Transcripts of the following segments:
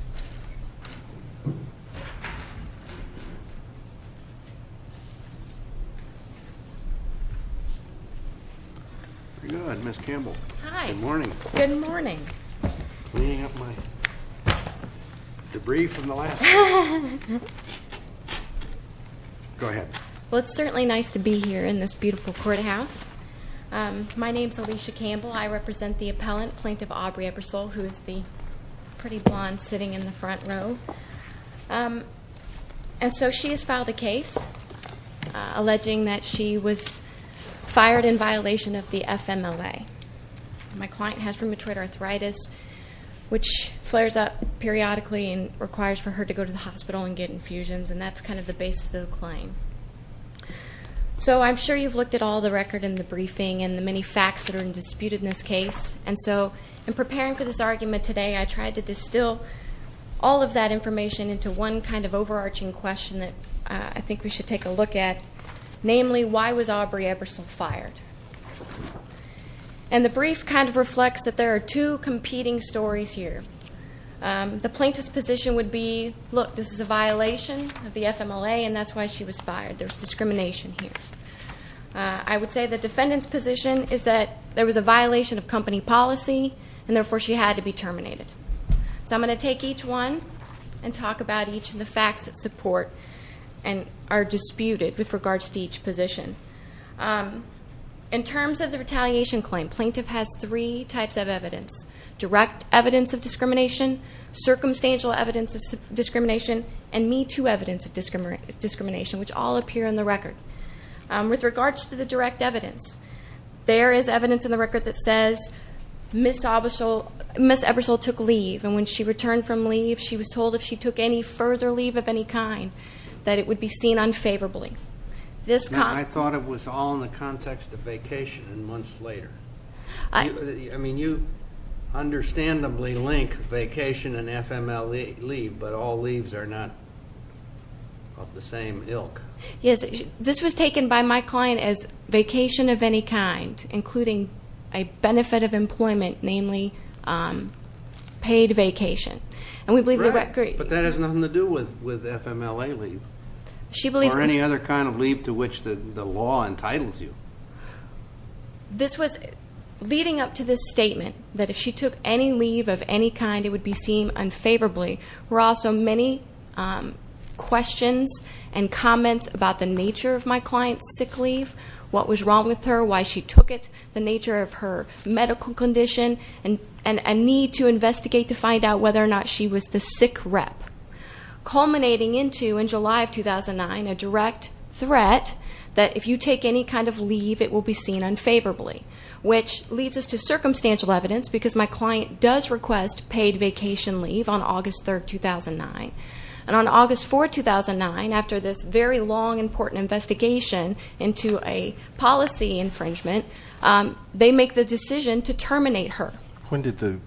Alicia Campbell, Plaintiff's Appellant Alicia has filed a case alleging that she was fired in violation of the FMLA. My client has rheumatoid arthritis, which flares up periodically and requires for her to go to the hospital and get infusions. That's kind of the basis of the claim. I'm sure you've looked at all the record in the briefing and the many facts that are disputed in this case. And so, in preparing for this argument today, I tried to distill all of that information into one kind of overarching question that I think we should take a look at. Namely, why was Aubree Ebersole fired? And the brief kind of reflects that there are two competing stories here. The plaintiff's position would be, look, this is a violation of the FMLA and that's why she was fired. There's discrimination here. I would say the defendant's position is that there was a violation of company policy and therefore she had to be terminated. So I'm going to take each one and talk about each of the facts that support and are disputed with regards to each position. In terms of the retaliation claim, plaintiff has three types of evidence. Direct evidence of discrimination, circumstantial evidence of discrimination, and Me Too evidence of discrimination, which all appear in the record. With regards to the direct evidence, there is evidence in the record that says Ms. Ebersole took leave. And when she returned from leave, she was told if she took any further leave of any kind, that it would be seen unfavorably. I thought it was all in the context of vacation and months later. I mean, you understandably link vacation and FMLA leave, but all leaves are not of the same ilk. Yes, this was taken by my client as vacation of any kind, including a benefit of employment, namely paid vacation. Right, but that has nothing to do with FMLA leave or any other kind of leave to which the law entitles you. This was leading up to this statement that if she took any leave of any kind, it would be seen unfavorably. There were also many questions and comments about the nature of my client's sick leave, what was wrong with her, why she took it, the nature of her medical condition, and a need to investigate to find out whether or not she was the sick rep. Culminating into, in July of 2009, a direct threat that if you take any kind of leave, it will be seen unfavorably, which leads us to circumstantial evidence because my client does request paid vacation leave on August 3rd, 2009. And on August 4th, 2009, after this very long, important investigation into a policy infringement, they make the decision to terminate her. When did the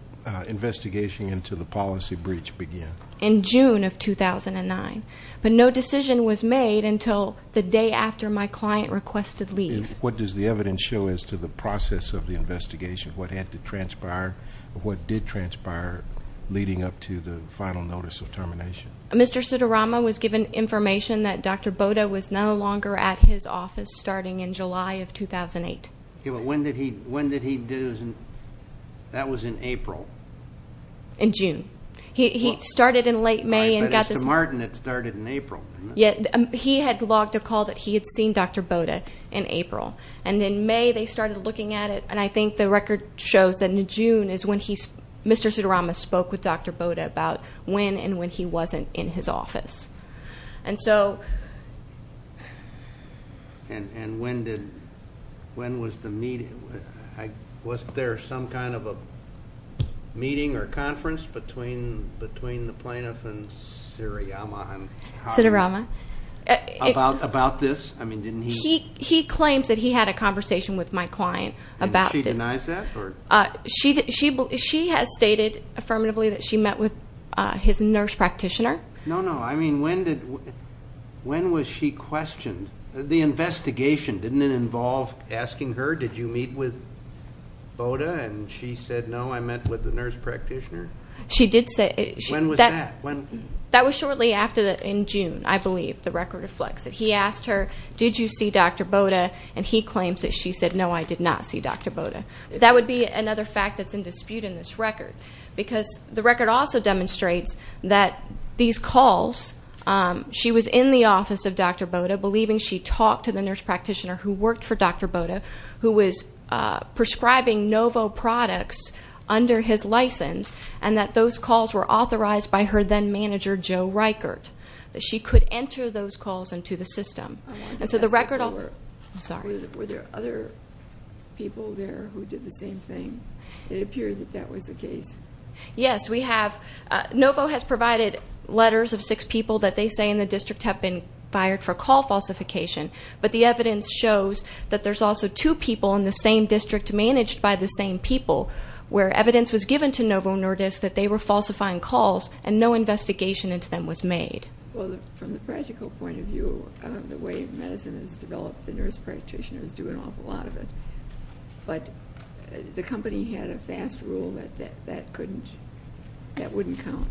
investigation into the policy breach begin? In June of 2009, but no decision was made until the day after my client requested leave. What does the evidence show as to the process of the investigation? What had to transpire? What did transpire leading up to the final notice of termination? Mr. Sidorama was given information that Dr. Boda was no longer at his office starting in July of 2008. Okay, but when did he do his? That was in April. He started in late May and got this. I bet it's the Martin that started in April. He had logged a call that he had seen Dr. Boda in April, and in May they started looking at it, and I think the record shows that in June is when Mr. Sidorama spoke with Dr. Boda about when and when he wasn't in his office. And when was the meeting? Wasn't there some kind of a meeting or conference between the plaintiff and Siriyama? Sidorama. About this? He claims that he had a conversation with my client about this. And she denies that? She has stated affirmatively that she met with his nurse practitioner. No, no. I mean, when was she questioned? The investigation, didn't it involve asking her, did you meet with Boda? And she said, no, I met with the nurse practitioner. She did say. When was that? That was shortly after, in June, I believe, the record reflects that. He asked her, did you see Dr. Boda? And he claims that she said, no, I did not see Dr. Boda. That would be another fact that's in dispute in this record, because the record also demonstrates that these calls, she was in the office of Dr. Boda, believing she talked to the nurse practitioner who worked for Dr. Boda, who was prescribing Novo products under his license, and that those calls were authorized by her then-manager, Joe Reichert, that she could enter those calls into the system. And so the record also. Were there other people there who did the same thing? It appeared that that was the case. Yes, we have. Novo has provided letters of six people that they say in the district have been fired for call falsification, but the evidence shows that there's also two people in the same district managed by the same people, where evidence was given to Novo Nordisk that they were falsifying calls and no investigation into them was made. Well, from the practical point of view, the way medicine is developed, the nurse practitioner is doing an awful lot of it. But the company had a fast rule that that couldn't, that wouldn't count.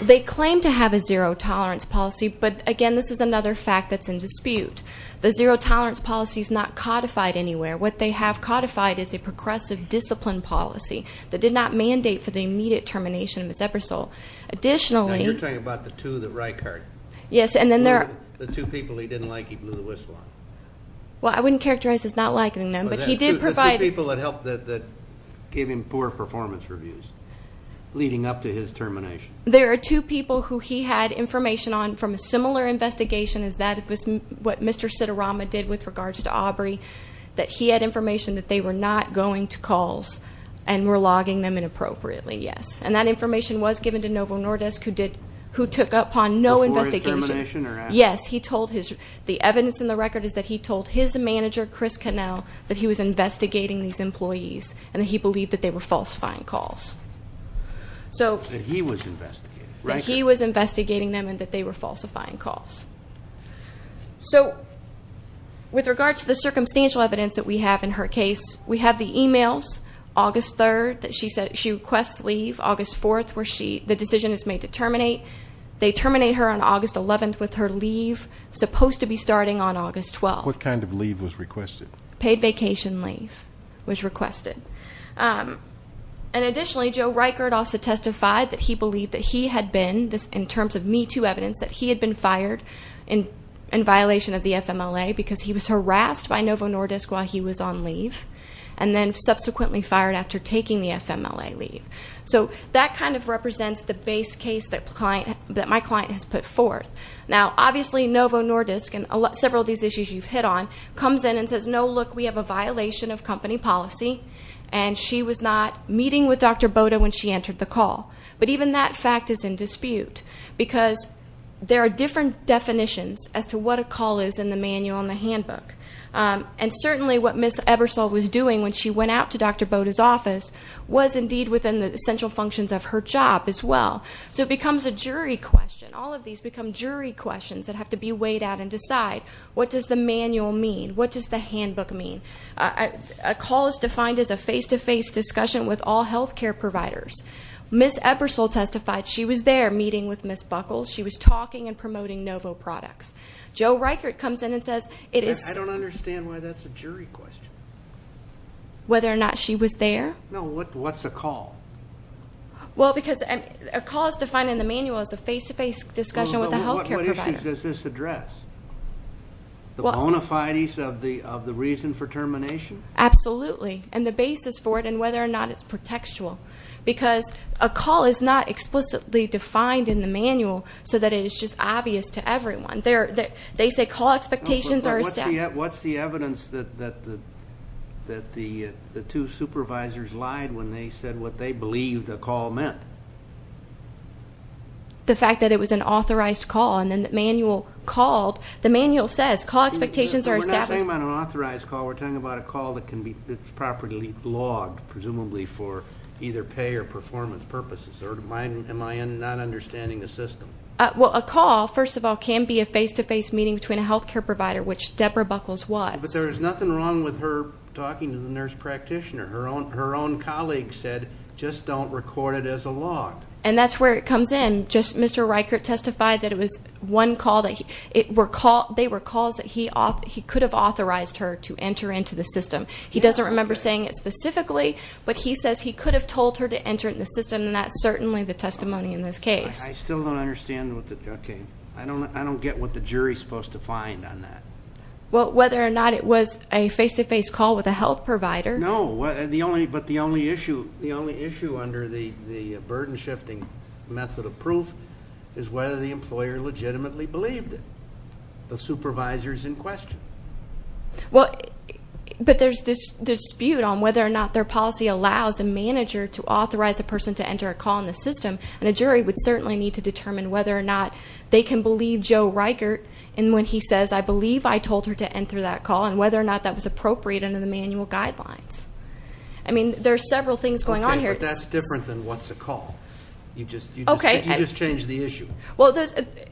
They claim to have a zero-tolerance policy, but, again, this is another fact that's in dispute. The zero-tolerance policy is not codified anywhere. What they have codified is a progressive discipline policy that did not mandate for the immediate termination of Ms. Ebersole. Additionally. Now, you're talking about the two that Reichert. Yes, and then there are. The two people he didn't like he blew the whistle on. Well, I wouldn't characterize as not liking them, but he did provide. The two people that helped, that gave him poor performance reviews leading up to his termination. There are two people who he had information on from a similar investigation as that of what Mr. Sitarama did with regards to Aubrey, that he had information that they were not going to calls and were logging them inappropriately, yes. And that information was given to Novo Nordisk, who did, who took up on no investigation. Before his termination or after? Yes, he told his. The evidence in the record is that he told his manager, Chris Connell, that he was investigating these employees and that he believed that they were falsifying calls. So. That he was investigating. That he was investigating them and that they were falsifying calls. So, with regards to the circumstantial evidence that we have in her case, we have the e-mails. August 3rd, she said she requests leave. August 4th, the decision is made to terminate. They terminate her on August 11th with her leave, supposed to be starting on August 12th. What kind of leave was requested? Paid vacation leave was requested. And additionally, Joe Reichert also testified that he believed that he had been, in terms of Me Too evidence, that he had been fired in violation of the FMLA because he was harassed by Novo Nordisk while he was on leave and then subsequently fired after taking the FMLA leave. So, that kind of represents the base case that my client has put forth. Now, obviously, Novo Nordisk, and several of these issues you've hit on, comes in and says, no, look, we have a violation of company policy. And she was not meeting with Dr. Boda when she entered the call. But even that fact is in dispute because there are different definitions as to what a call is in the manual and the handbook. And certainly what Ms. Ebersole was doing when she went out to Dr. Boda's office was indeed within the essential functions of her job as well. So, it becomes a jury question. All of these become jury questions that have to be weighed out and decide, what does the manual mean? What does the handbook mean? A call is defined as a face-to-face discussion with all health care providers. Ms. Ebersole testified she was there meeting with Ms. Buckles. She was talking and promoting Novo products. Joe Reichert comes in and says it is. I don't understand why that's a jury question. Whether or not she was there? No, what's a call? Well, because a call is defined in the manual as a face-to-face discussion with a health care provider. What issues does this address? The bona fides of the reason for termination? Absolutely. And the basis for it and whether or not it's protectual. Because a call is not explicitly defined in the manual so that it is just obvious to everyone. They say call expectations are established. What's the evidence that the two supervisors lied when they said what they believed a call meant? The fact that it was an authorized call. And then the manual called. The manual says call expectations are established. We're not talking about an authorized call. We're talking about a call that's properly logged, presumably for either pay or performance purposes. Or am I not understanding the system? Well, a call, first of all, can be a face-to-face meeting between a health care provider, which Deborah Buckles was. But there was nothing wrong with her talking to the nurse practitioner. Her own colleague said, just don't record it as a log. And that's where it comes in. Just Mr. Reichert testified that it was one call that they were calls that he could have authorized her to enter into the system. He doesn't remember saying it specifically, but he says he could have told her to enter in the system, and that's certainly the testimony in this case. I still don't understand. Okay. I don't get what the jury is supposed to find on that. Well, whether or not it was a face-to-face call with a health provider. No. But the only issue under the burden-shifting method of proof is whether the employer legitimately believed it. The supervisor is in question. Well, but there's this dispute on whether or not their policy allows a manager to authorize a person to enter a call in the system. And a jury would certainly need to determine whether or not they can believe Joe Reichert in when he says, I believe I told her to enter that call, and whether or not that was appropriate under the manual guidelines. I mean, there are several things going on here. Okay, but that's different than what's a call. You just changed the issue. Well,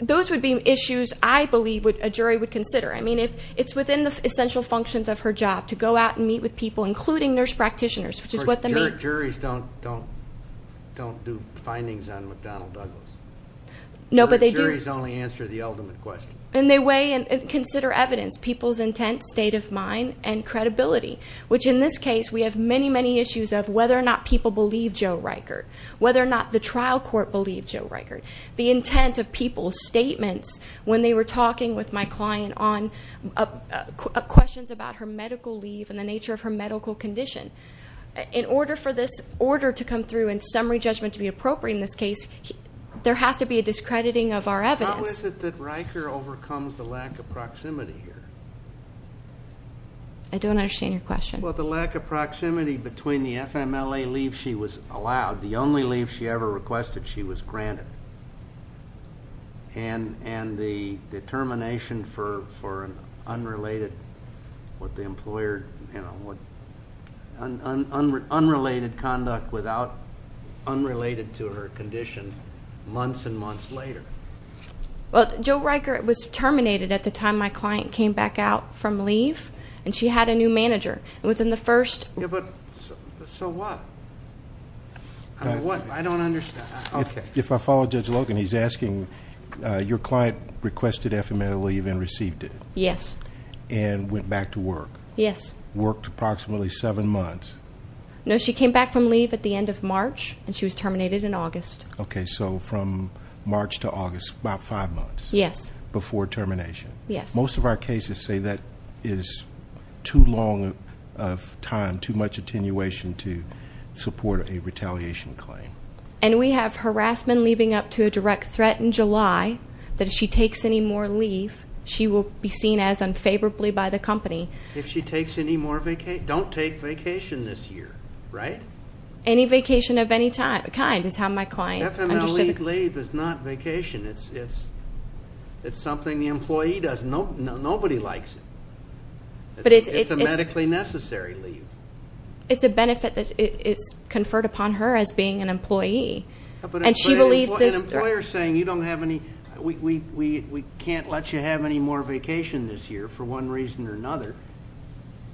those would be issues I believe a jury would consider. I mean, it's within the essential functions of her job to go out and meet with people, including nurse practitioners, which is what they mean. Juries don't do findings on McDonnell Douglas. No, but they do. Juries only answer the ultimate question. And they weigh and consider evidence, people's intent, state of mind, and credibility, which in this case we have many, many issues of whether or not people believe Joe Reichert, whether or not the trial court believed Joe Reichert, the intent of people's statements when they were talking with my client on questions about her medical leave and the nature of her medical condition. In order for this order to come through and summary judgment to be appropriate in this case, there has to be a discrediting of our evidence. How is it that Reichert overcomes the lack of proximity here? I don't understand your question. Well, the lack of proximity between the FMLA leave she was allowed, the only leave she ever requested she was granted, and the determination for unrelated conduct unrelated to her condition months and months later. Well, Joe Reichert was terminated at the time my client came back out from leave, and she had a new manager. And within the first ---- Yeah, but so what? I don't understand. If I follow Judge Logan, he's asking, your client requested FMLA leave and received it. Yes. And went back to work. Yes. Worked approximately seven months. No, she came back from leave at the end of March, and she was terminated in August. Okay, so from March to August, about five months. Yes. Before termination. Yes. Most of our cases say that is too long of time, too much attenuation to support a retaliation claim. And we have harassment leading up to a direct threat in July that if she takes any more leave, she will be seen as unfavorably by the company. If she takes any more vacations. Don't take vacation this year, right? Any vacation of any kind is how my client understood it. FMLA leave is not vacation. It's something the employee does. Nobody likes it. It's a medically necessary leave. It's a benefit that is conferred upon her as being an employee. And she believed this. An employer saying you don't have any, we can't let you have any more vacation this year for one reason or another.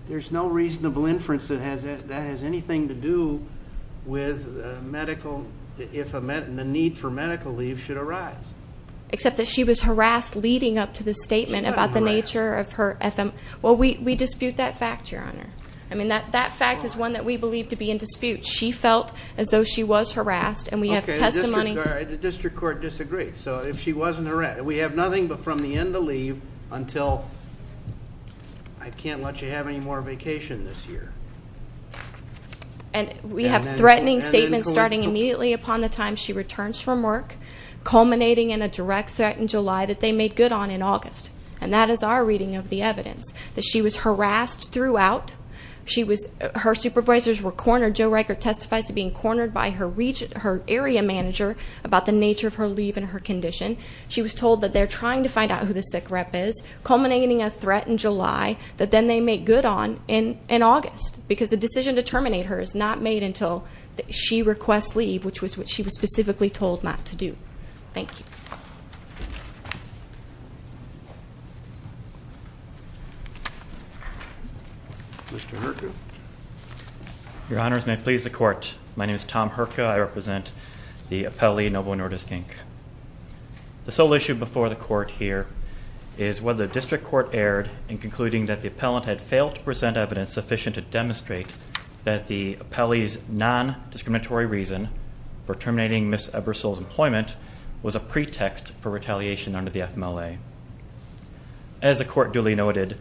There's no reasonable inference that has anything to do with medical, if the need for medical leave should arise. Except that she was harassed leading up to the statement about the nature of her FM. Well, we dispute that fact, Your Honor. I mean, that fact is one that we believe to be in dispute. She felt as though she was harassed. And we have testimony. The district court disagreed. So if she wasn't harassed. We have nothing but from the end of leave until I can't let you have any more vacation this year. And we have threatening statements starting immediately upon the time she returns from work, culminating in a direct threat in July that they made good on in August. And that is our reading of the evidence, that she was harassed throughout. Her supervisors were cornered. Joe Riker testifies to being cornered by her area manager about the nature of her leave and her condition. She was told that they're trying to find out who the sick rep is, culminating in a threat in July that then they made good on in August. Because the decision to terminate her is not made until she requests leave, which was what she was specifically told not to do. Thank you. Mr. Herka. Your Honors, may it please the court, my name is Tom Herka. I represent the appellee, Novo Nordiskink. The sole issue before the court here is whether the district court erred in concluding that the appellant had failed to present evidence sufficient to demonstrate that the appellee's nondiscriminatory reason for terminating Ms. Ebersole's employment was a pretext for retaliation under the FMLA. As the court duly noted,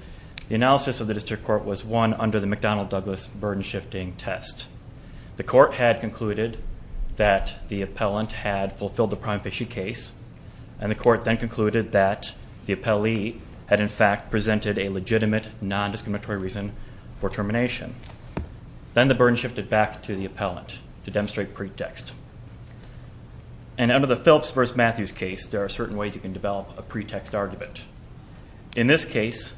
the analysis of the district court was won under the McDonnell-Douglas burden-shifting test. The court had concluded that the appellant had fulfilled the prime fishy case, and the court then concluded that the appellee had in fact presented a legitimate nondiscriminatory reason for termination. Then the burden shifted back to the appellant to demonstrate pretext. And under the Phillips v. Matthews case, there are certain ways you can develop a pretext argument. In this case,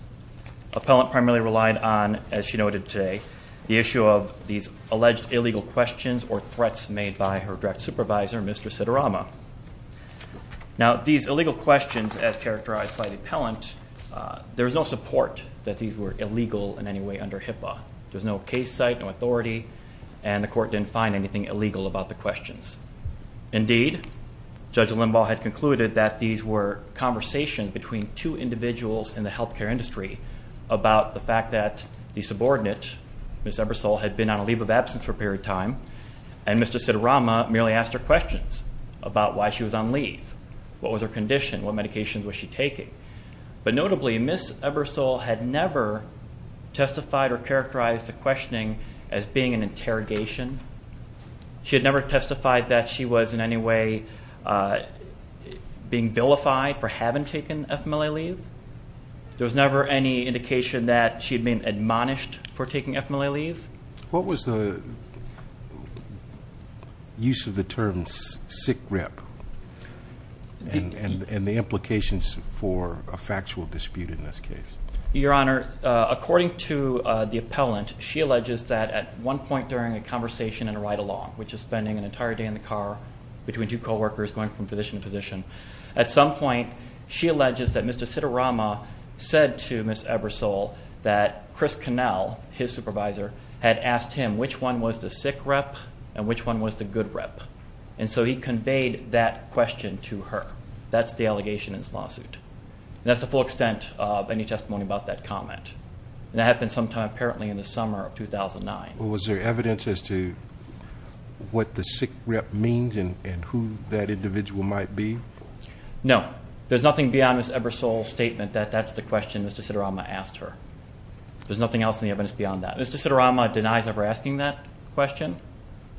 the appellant primarily relied on, as she noted today, the issue of these alleged illegal questions or threats made by her direct supervisor, Mr. Siderama. Now, these illegal questions, as characterized by the appellant, there was no support that these were illegal in any way under HIPAA. There was no case site, no authority, and the court didn't find anything illegal about the questions. Indeed, Judge Limbaugh had concluded that these were conversations between two individuals in the healthcare industry about the fact that the subordinate, Ms. Ebersole, had been on a leave of absence for a period of time, and Mr. Siderama merely asked her questions about why she was on leave. What was her condition? What medications was she taking? But notably, Ms. Ebersole had never testified or characterized the questioning as being an interrogation. She had never testified that she was in any way being vilified for having taken FMLA leave. There was never any indication that she had been admonished for taking FMLA leave. What was the use of the term sick rep and the implications for a factual dispute in this case? Your Honor, according to the appellant, she alleges that at one point during a conversation in a ride-along, which is spending an entire day in the car between two coworkers going from position to position, at some point she alleges that Mr. Siderama said to Ms. Ebersole that Chris Connell, his supervisor, had asked him which one was the sick rep and which one was the good rep. And so he conveyed that question to her. That's the allegation in this lawsuit. And that's the full extent of any testimony about that comment. And that happened sometime apparently in the summer of 2009. Was there evidence as to what the sick rep means and who that individual might be? No. There's nothing beyond Ms. Ebersole's statement that that's the question Mr. Siderama asked her. There's nothing else in the evidence beyond that. Mr. Siderama denies ever asking that question.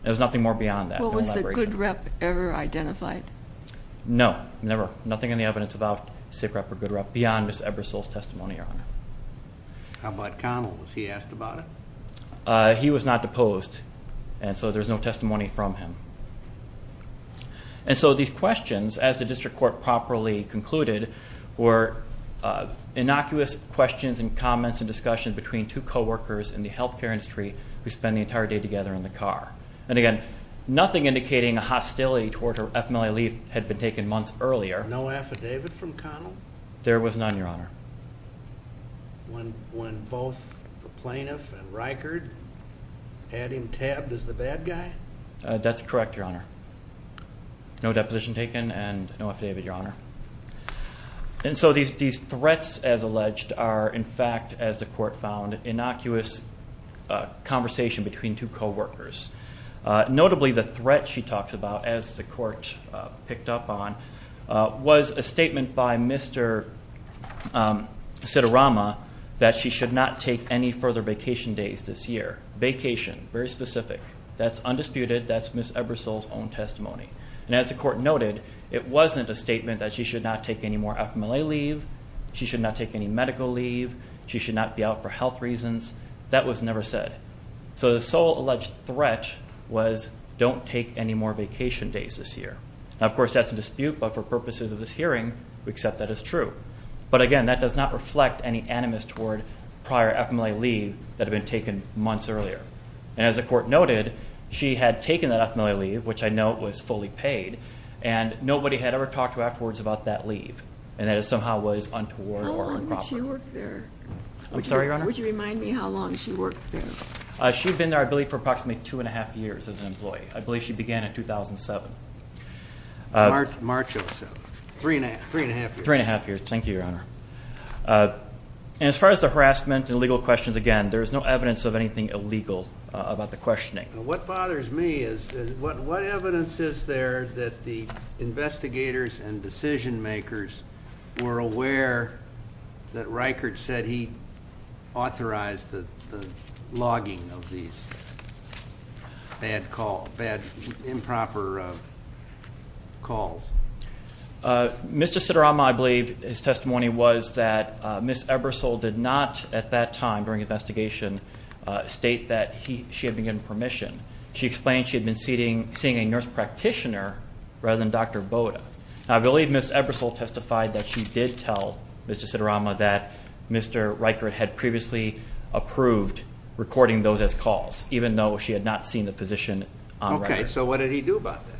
There's nothing more beyond that. Was the good rep ever identified? No, never. Nothing in the evidence about sick rep or good rep beyond Ms. Ebersole's testimony, Your Honor. How about Connell? Was he asked about it? He was not deposed, and so there's no testimony from him. And so these questions, as the district court properly concluded, were innocuous questions and comments and discussions between two co-workers in the health care industry who spend the entire day together in the car. And again, nothing indicating a hostility toward her. FMLA leave had been taken months earlier. No affidavit from Connell? There was none, Your Honor. When both the plaintiff and Reichard had him tabbed as the bad guy? That's correct, Your Honor. No deposition taken and no affidavit, Your Honor. And so these threats, as alleged, are, in fact, as the court found, innocuous conversation between two co-workers. Notably, the threat she talks about, as the court picked up on, was a statement by Mr. Siderama that she should not take any further vacation days this year. Vacation, very specific. That's undisputed. That's Ms. Ebersole's own testimony. And as the court noted, it wasn't a statement that she should not take any more FMLA leave, she should not take any medical leave, she should not be out for health reasons. That was never said. So the sole alleged threat was don't take any more vacation days this year. Now, of course, that's a dispute, but for purposes of this hearing, we accept that as true. But, again, that does not reflect any animus toward prior FMLA leave that had been taken months earlier. And as the court noted, she had taken that FMLA leave, which I know was fully paid, and nobody had ever talked to her afterwards about that leave, and that it somehow was untoward or improper. How long did she work there? I'm sorry, Your Honor? Would you remind me how long she worked there? She had been there, I believe, for approximately two and a half years as an employee. I believe she began in 2007. March of 2007. Three and a half years. Three and a half years. Thank you, Your Honor. And as far as the harassment and legal questions, again, there is no evidence of anything illegal about the questioning. What bothers me is what evidence is there that the investigators and decision makers were aware that Reichert said he authorized the logging of these bad improper calls? Mr. Siderama, I believe his testimony was that Ms. Ebersole did not at that time during investigation state that she had been given permission. She explained she had been seeing a nurse practitioner rather than Dr. Boda. I believe Ms. Ebersole testified that she did tell Mr. Siderama that Mr. Reichert had previously approved recording those as calls, even though she had not seen the physician on record. Okay, so what did he do about that?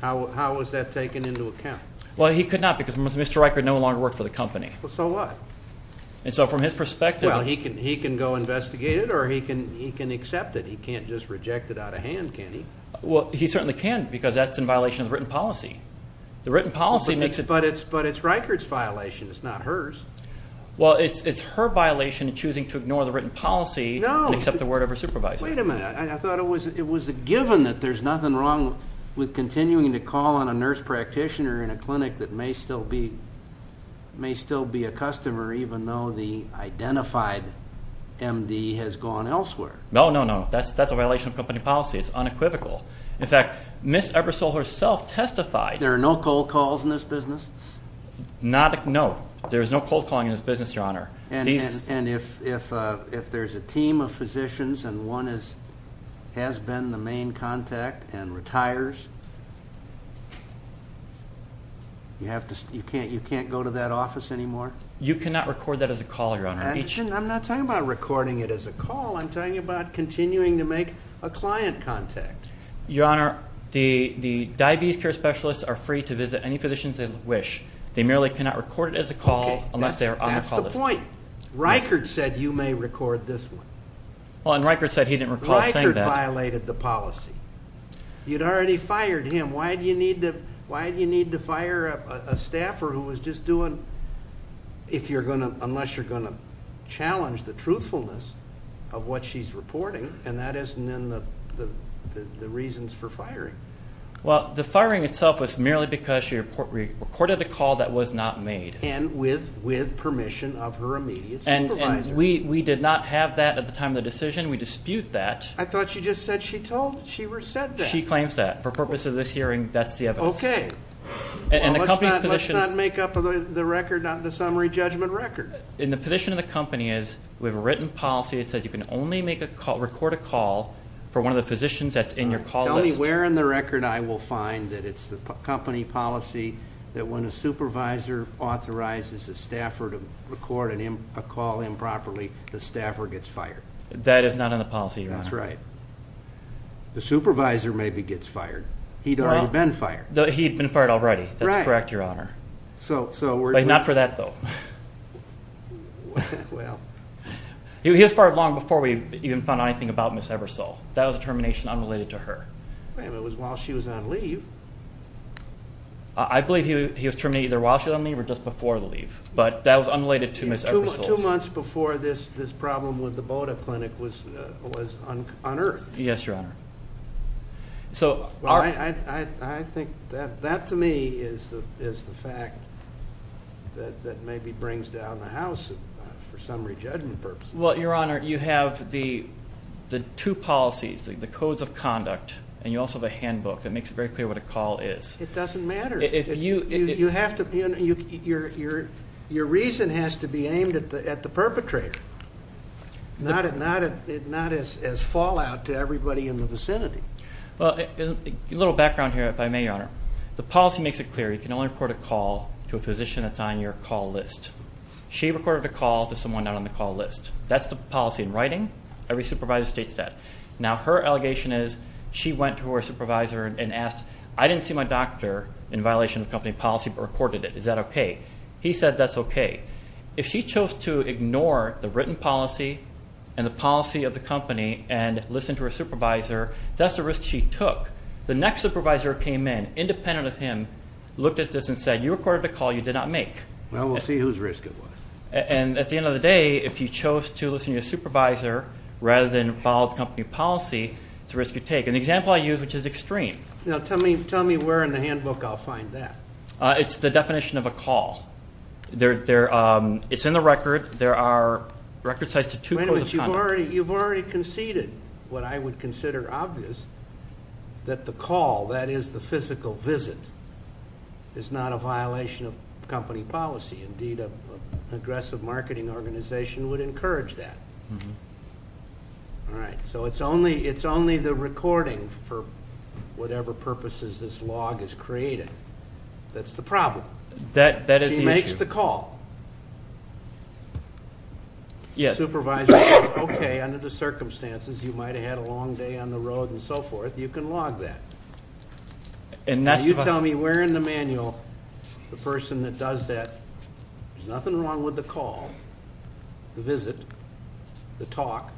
How was that taken into account? Well, he could not because Mr. Reichert no longer worked for the company. So what? And so from his perspective. Well, he can go investigate it or he can accept it. He can't just reject it out of hand, can he? Well, he certainly can because that's in violation of written policy. The written policy makes it. But it's Reichert's violation. It's not hers. Well, it's her violation in choosing to ignore the written policy and accept the word of her supervisor. Wait a minute. I thought it was a given that there's nothing wrong with continuing to call on a nurse practitioner in a clinic that may still be a customer, even though the identified MD has gone elsewhere. No, no, no. That's a violation of company policy. It's unequivocal. In fact, Ms. Ebersole herself testified. There are no cold calls in this business? No. There is no cold calling in this business, Your Honor. And if there's a team of physicians and one has been the main contact and retires, you can't go to that office anymore? You cannot record that as a call, Your Honor. I'm not talking about recording it as a call. I'm talking about continuing to make a client contact. Your Honor, the diabetes care specialists are free to visit any physicians they wish. They merely cannot record it as a call unless they are on a call list. That's the point. Reichert said you may record this one. Well, and Reichert said he didn't recall saying that. Reichert violated the policy. You'd already fired him. Why do you need to fire a staffer who was just doing unless you're going to challenge the truthfulness of what she's reporting, and that isn't in the reasons for firing? Well, the firing itself was merely because she reported a call that was not made. And with permission of her immediate supervisor. And we did not have that at the time of the decision. We dispute that. I thought you just said she told you. She said that. She claims that. For purposes of this hearing, that's the evidence. Okay. Well, let's not make up the record, not the summary judgment record. And the position of the company is we have a written policy that says you can only record a call for one of the physicians that's in your call list. Tell me where in the record I will find that it's the company policy that when a supervisor authorizes a staffer to record a call improperly, the staffer gets fired. That is not in the policy, Your Honor. That's right. The supervisor maybe gets fired. He'd already been fired. He'd been fired already. That's correct, Your Honor. But not for that, though. He was fired long before we even found out anything about Ms. Ebersole. That was a termination unrelated to her. It was while she was on leave. I believe he was terminated either while she was on leave or just before the leave. But that was unrelated to Ms. Ebersole. Two months before this problem with the Boda Clinic was unearthed. Yes, Your Honor. I think that, to me, is the fact that maybe brings down the house for summary judgment purposes. Well, Your Honor, you have the two policies, the codes of conduct, and you also have a handbook that makes it very clear what a call is. It doesn't matter. Your reason has to be aimed at the perpetrator, not as fallout to everybody in the vicinity. A little background here, if I may, Your Honor. The policy makes it clear you can only record a call to a physician that's on your call list. She recorded a call to someone not on the call list. That's the policy in writing. Every supervisor states that. Now, her allegation is she went to her supervisor and asked, I didn't see my doctor in violation of company policy but recorded it. Is that okay? He said that's okay. If she chose to ignore the written policy and the policy of the company and listen to her supervisor, that's a risk she took. The next supervisor came in, independent of him, looked at this and said, you recorded a call you did not make. Well, we'll see whose risk it was. And at the end of the day, if you chose to listen to your supervisor rather than follow the company policy, it's a risk you take. An example I use, which is extreme. Tell me where in the handbook I'll find that. It's the definition of a call. It's in the record. There are record sites to two codes of conduct. You've already conceded what I would consider obvious, that the call, that is the physical visit, is not a violation of company policy. Indeed, an aggressive marketing organization would encourage that. All right, so it's only the recording for whatever purposes this log is created. That's the problem. That is the issue. She makes the call. Supervisor says, okay, under the circumstances, you might have had a long day on the road and so forth. You can log that. And you tell me where in the manual the person that does that, there's nothing wrong with the call, the visit, the talk.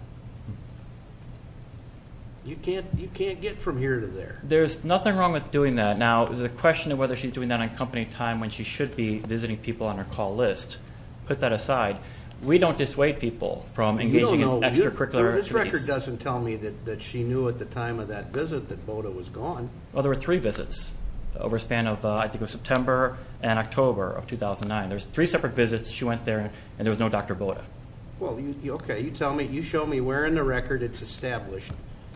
You can't get from here to there. There's nothing wrong with doing that. Now, there's a question of whether she's doing that on company time when she should be visiting people on her call list. Put that aside. We don't dissuade people from engaging in extracurricular activities. This record doesn't tell me that she knew at the time of that visit that Boda was gone. Well, there were three visits over a span of, I think, September and October of 2009. There were three separate visits. She went there, and there was no Dr. Boda. Well, okay, you show me where in the record it's established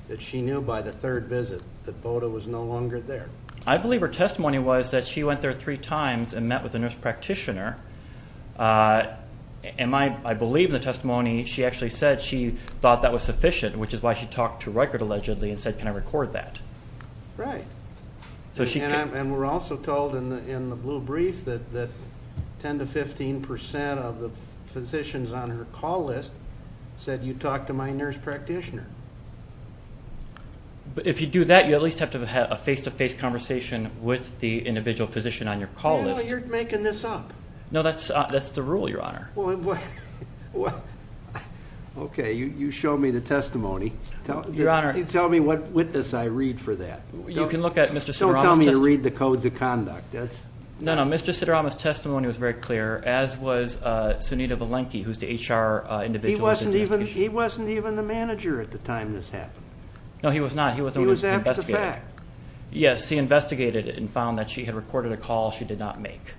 that she knew by the third visit that Boda was no longer there. I believe her testimony was that she went there three times and met with a nurse practitioner. And I believe in the testimony she actually said she thought that was sufficient, which is why she talked to record allegedly and said, can I record that? Right. And we're also told in the blue brief that 10 to 15% of the physicians on her call list said, you talked to my nurse practitioner. But if you do that, you at least have to have had a face-to-face conversation with the individual physician on your call list. No, you're making this up. No, that's the rule, Your Honor. Well, okay, you show me the testimony. Your Honor. Tell me what witness I read for that. You can look at Mr. Sidorama's testimony. Don't tell me you read the codes of conduct. No, no, Mr. Sidorama's testimony was very clear, as was Sunita Valenki, who's the HR individual. He wasn't even the manager at the time this happened. No, he was not. He was after the fact. Yes, he investigated it and found that she had recorded a call she did not make.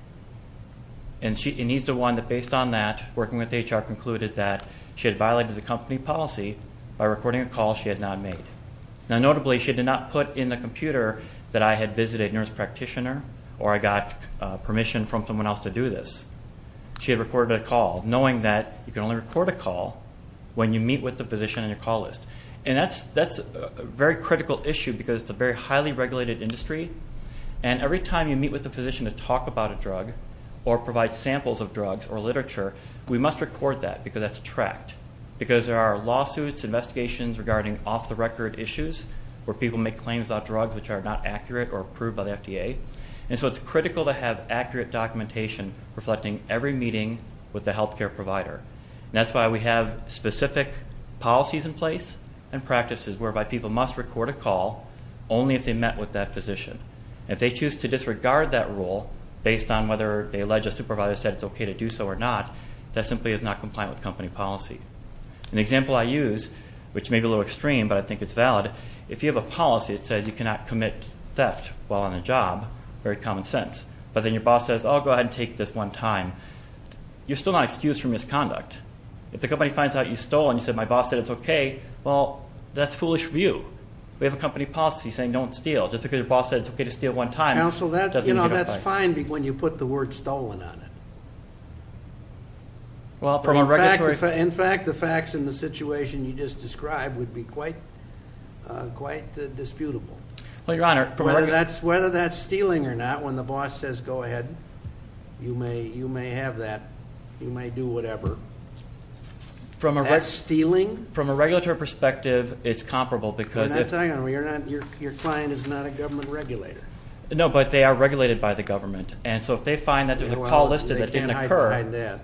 And he's the one that, based on that, working with HR, concluded that she had violated the company policy by recording a call she had not made. Now, notably, she did not put in the computer that I had visited a nurse practitioner or I got permission from someone else to do this. She had recorded a call, knowing that you can only record a call when you meet with the physician in your call list. And that's a very critical issue because it's a very highly regulated industry, and every time you meet with a physician to talk about a drug or provide samples of drugs or literature, we must record that because that's tracked, because there are lawsuits, investigations regarding off-the-record issues where people make claims about drugs which are not accurate or approved by the FDA. And so it's critical to have accurate documentation reflecting every meeting with the health care provider. And that's why we have specific policies in place and practices whereby people must record a call only if they met with that physician. And if they choose to disregard that rule based on whether they allege a supervisor said it's okay to do so or not, that simply is not compliant with company policy. An example I use, which may be a little extreme, but I think it's valid, if you have a policy that says you cannot commit theft while on a job, very common sense, but then your boss says, oh, go ahead and take this one time, you're still not excused for misconduct. If the company finds out you stole and you say, my boss said it's okay, well, that's foolish of you. We have a company policy saying don't steal. Just because your boss said it's okay to steal one time doesn't mean you get a fine. Counsel, that's fine when you put the word stolen on it. In fact, the facts in the situation you just described would be quite disputable. Whether that's stealing or not, when the boss says go ahead, you may have that. You may do whatever. That's stealing? From a regulatory perspective, it's comparable. Your client is not a government regulator. No, but they are regulated by the government. And so if they find that there's a call listed that didn't occur,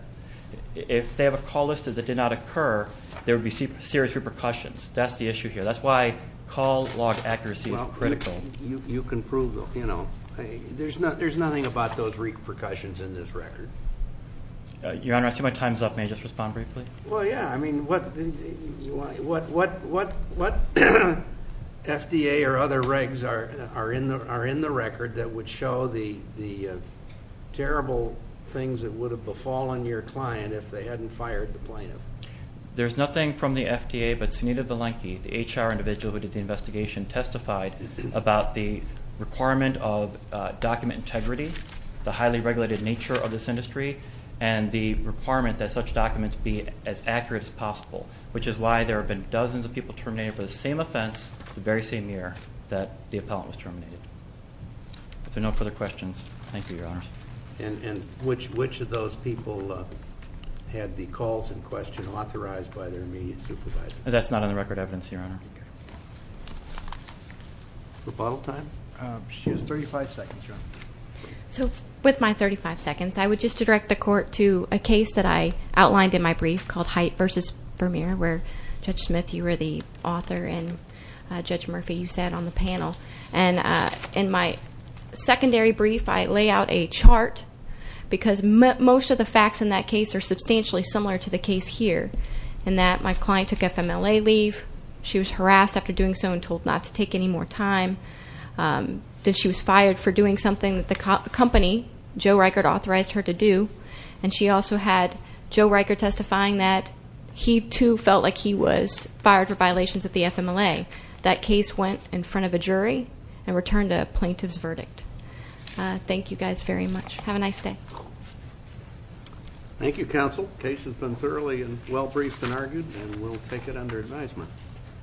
if they have a call listed that did not occur, there would be serious repercussions. That's the issue here. That's why call log accuracy is critical. You can prove, you know, there's nothing about those repercussions in this record. Your Honor, I see my time is up. May I just respond briefly? Well, yeah. I mean, what FDA or other regs are in the record that would show the terrible things that would have befallen your client if they hadn't fired the plaintiff? There's nothing from the FDA, but Sunita Valenki, the HR individual who did the investigation, testified about the requirement of document integrity, the highly regulated nature of this industry, and the requirement that such documents be as accurate as possible, which is why there have been dozens of people terminated for the same offense the very same year that the appellant was terminated. If there are no further questions, thank you, Your Honor. And which of those people had the calls in question authorized by their immediate supervisor? That's not in the record of evidence, Your Honor. Okay. Rebuttal time? She has 35 seconds, Your Honor. So with my 35 seconds, I would just direct the Court to a case that I outlined in my brief called Haidt v. Vermeer, where Judge Smith, you were the author, and Judge Murphy, you sat on the panel. And in my secondary brief, I lay out a chart because most of the facts in that case are substantially similar to the case here, in that my client took FMLA leave, she was harassed after doing so and told not to take any more time, that she was fired for doing something that the company, Joe Reichert, authorized her to do, and she also had Joe Reichert testifying that he, too, felt like he was fired for violations of the FMLA. That case went in front of a jury and returned a plaintiff's verdict. Thank you guys very much. Have a nice day. Thank you, Counsel. The case has been thoroughly and well-briefed and argued, and we'll take it under advisement.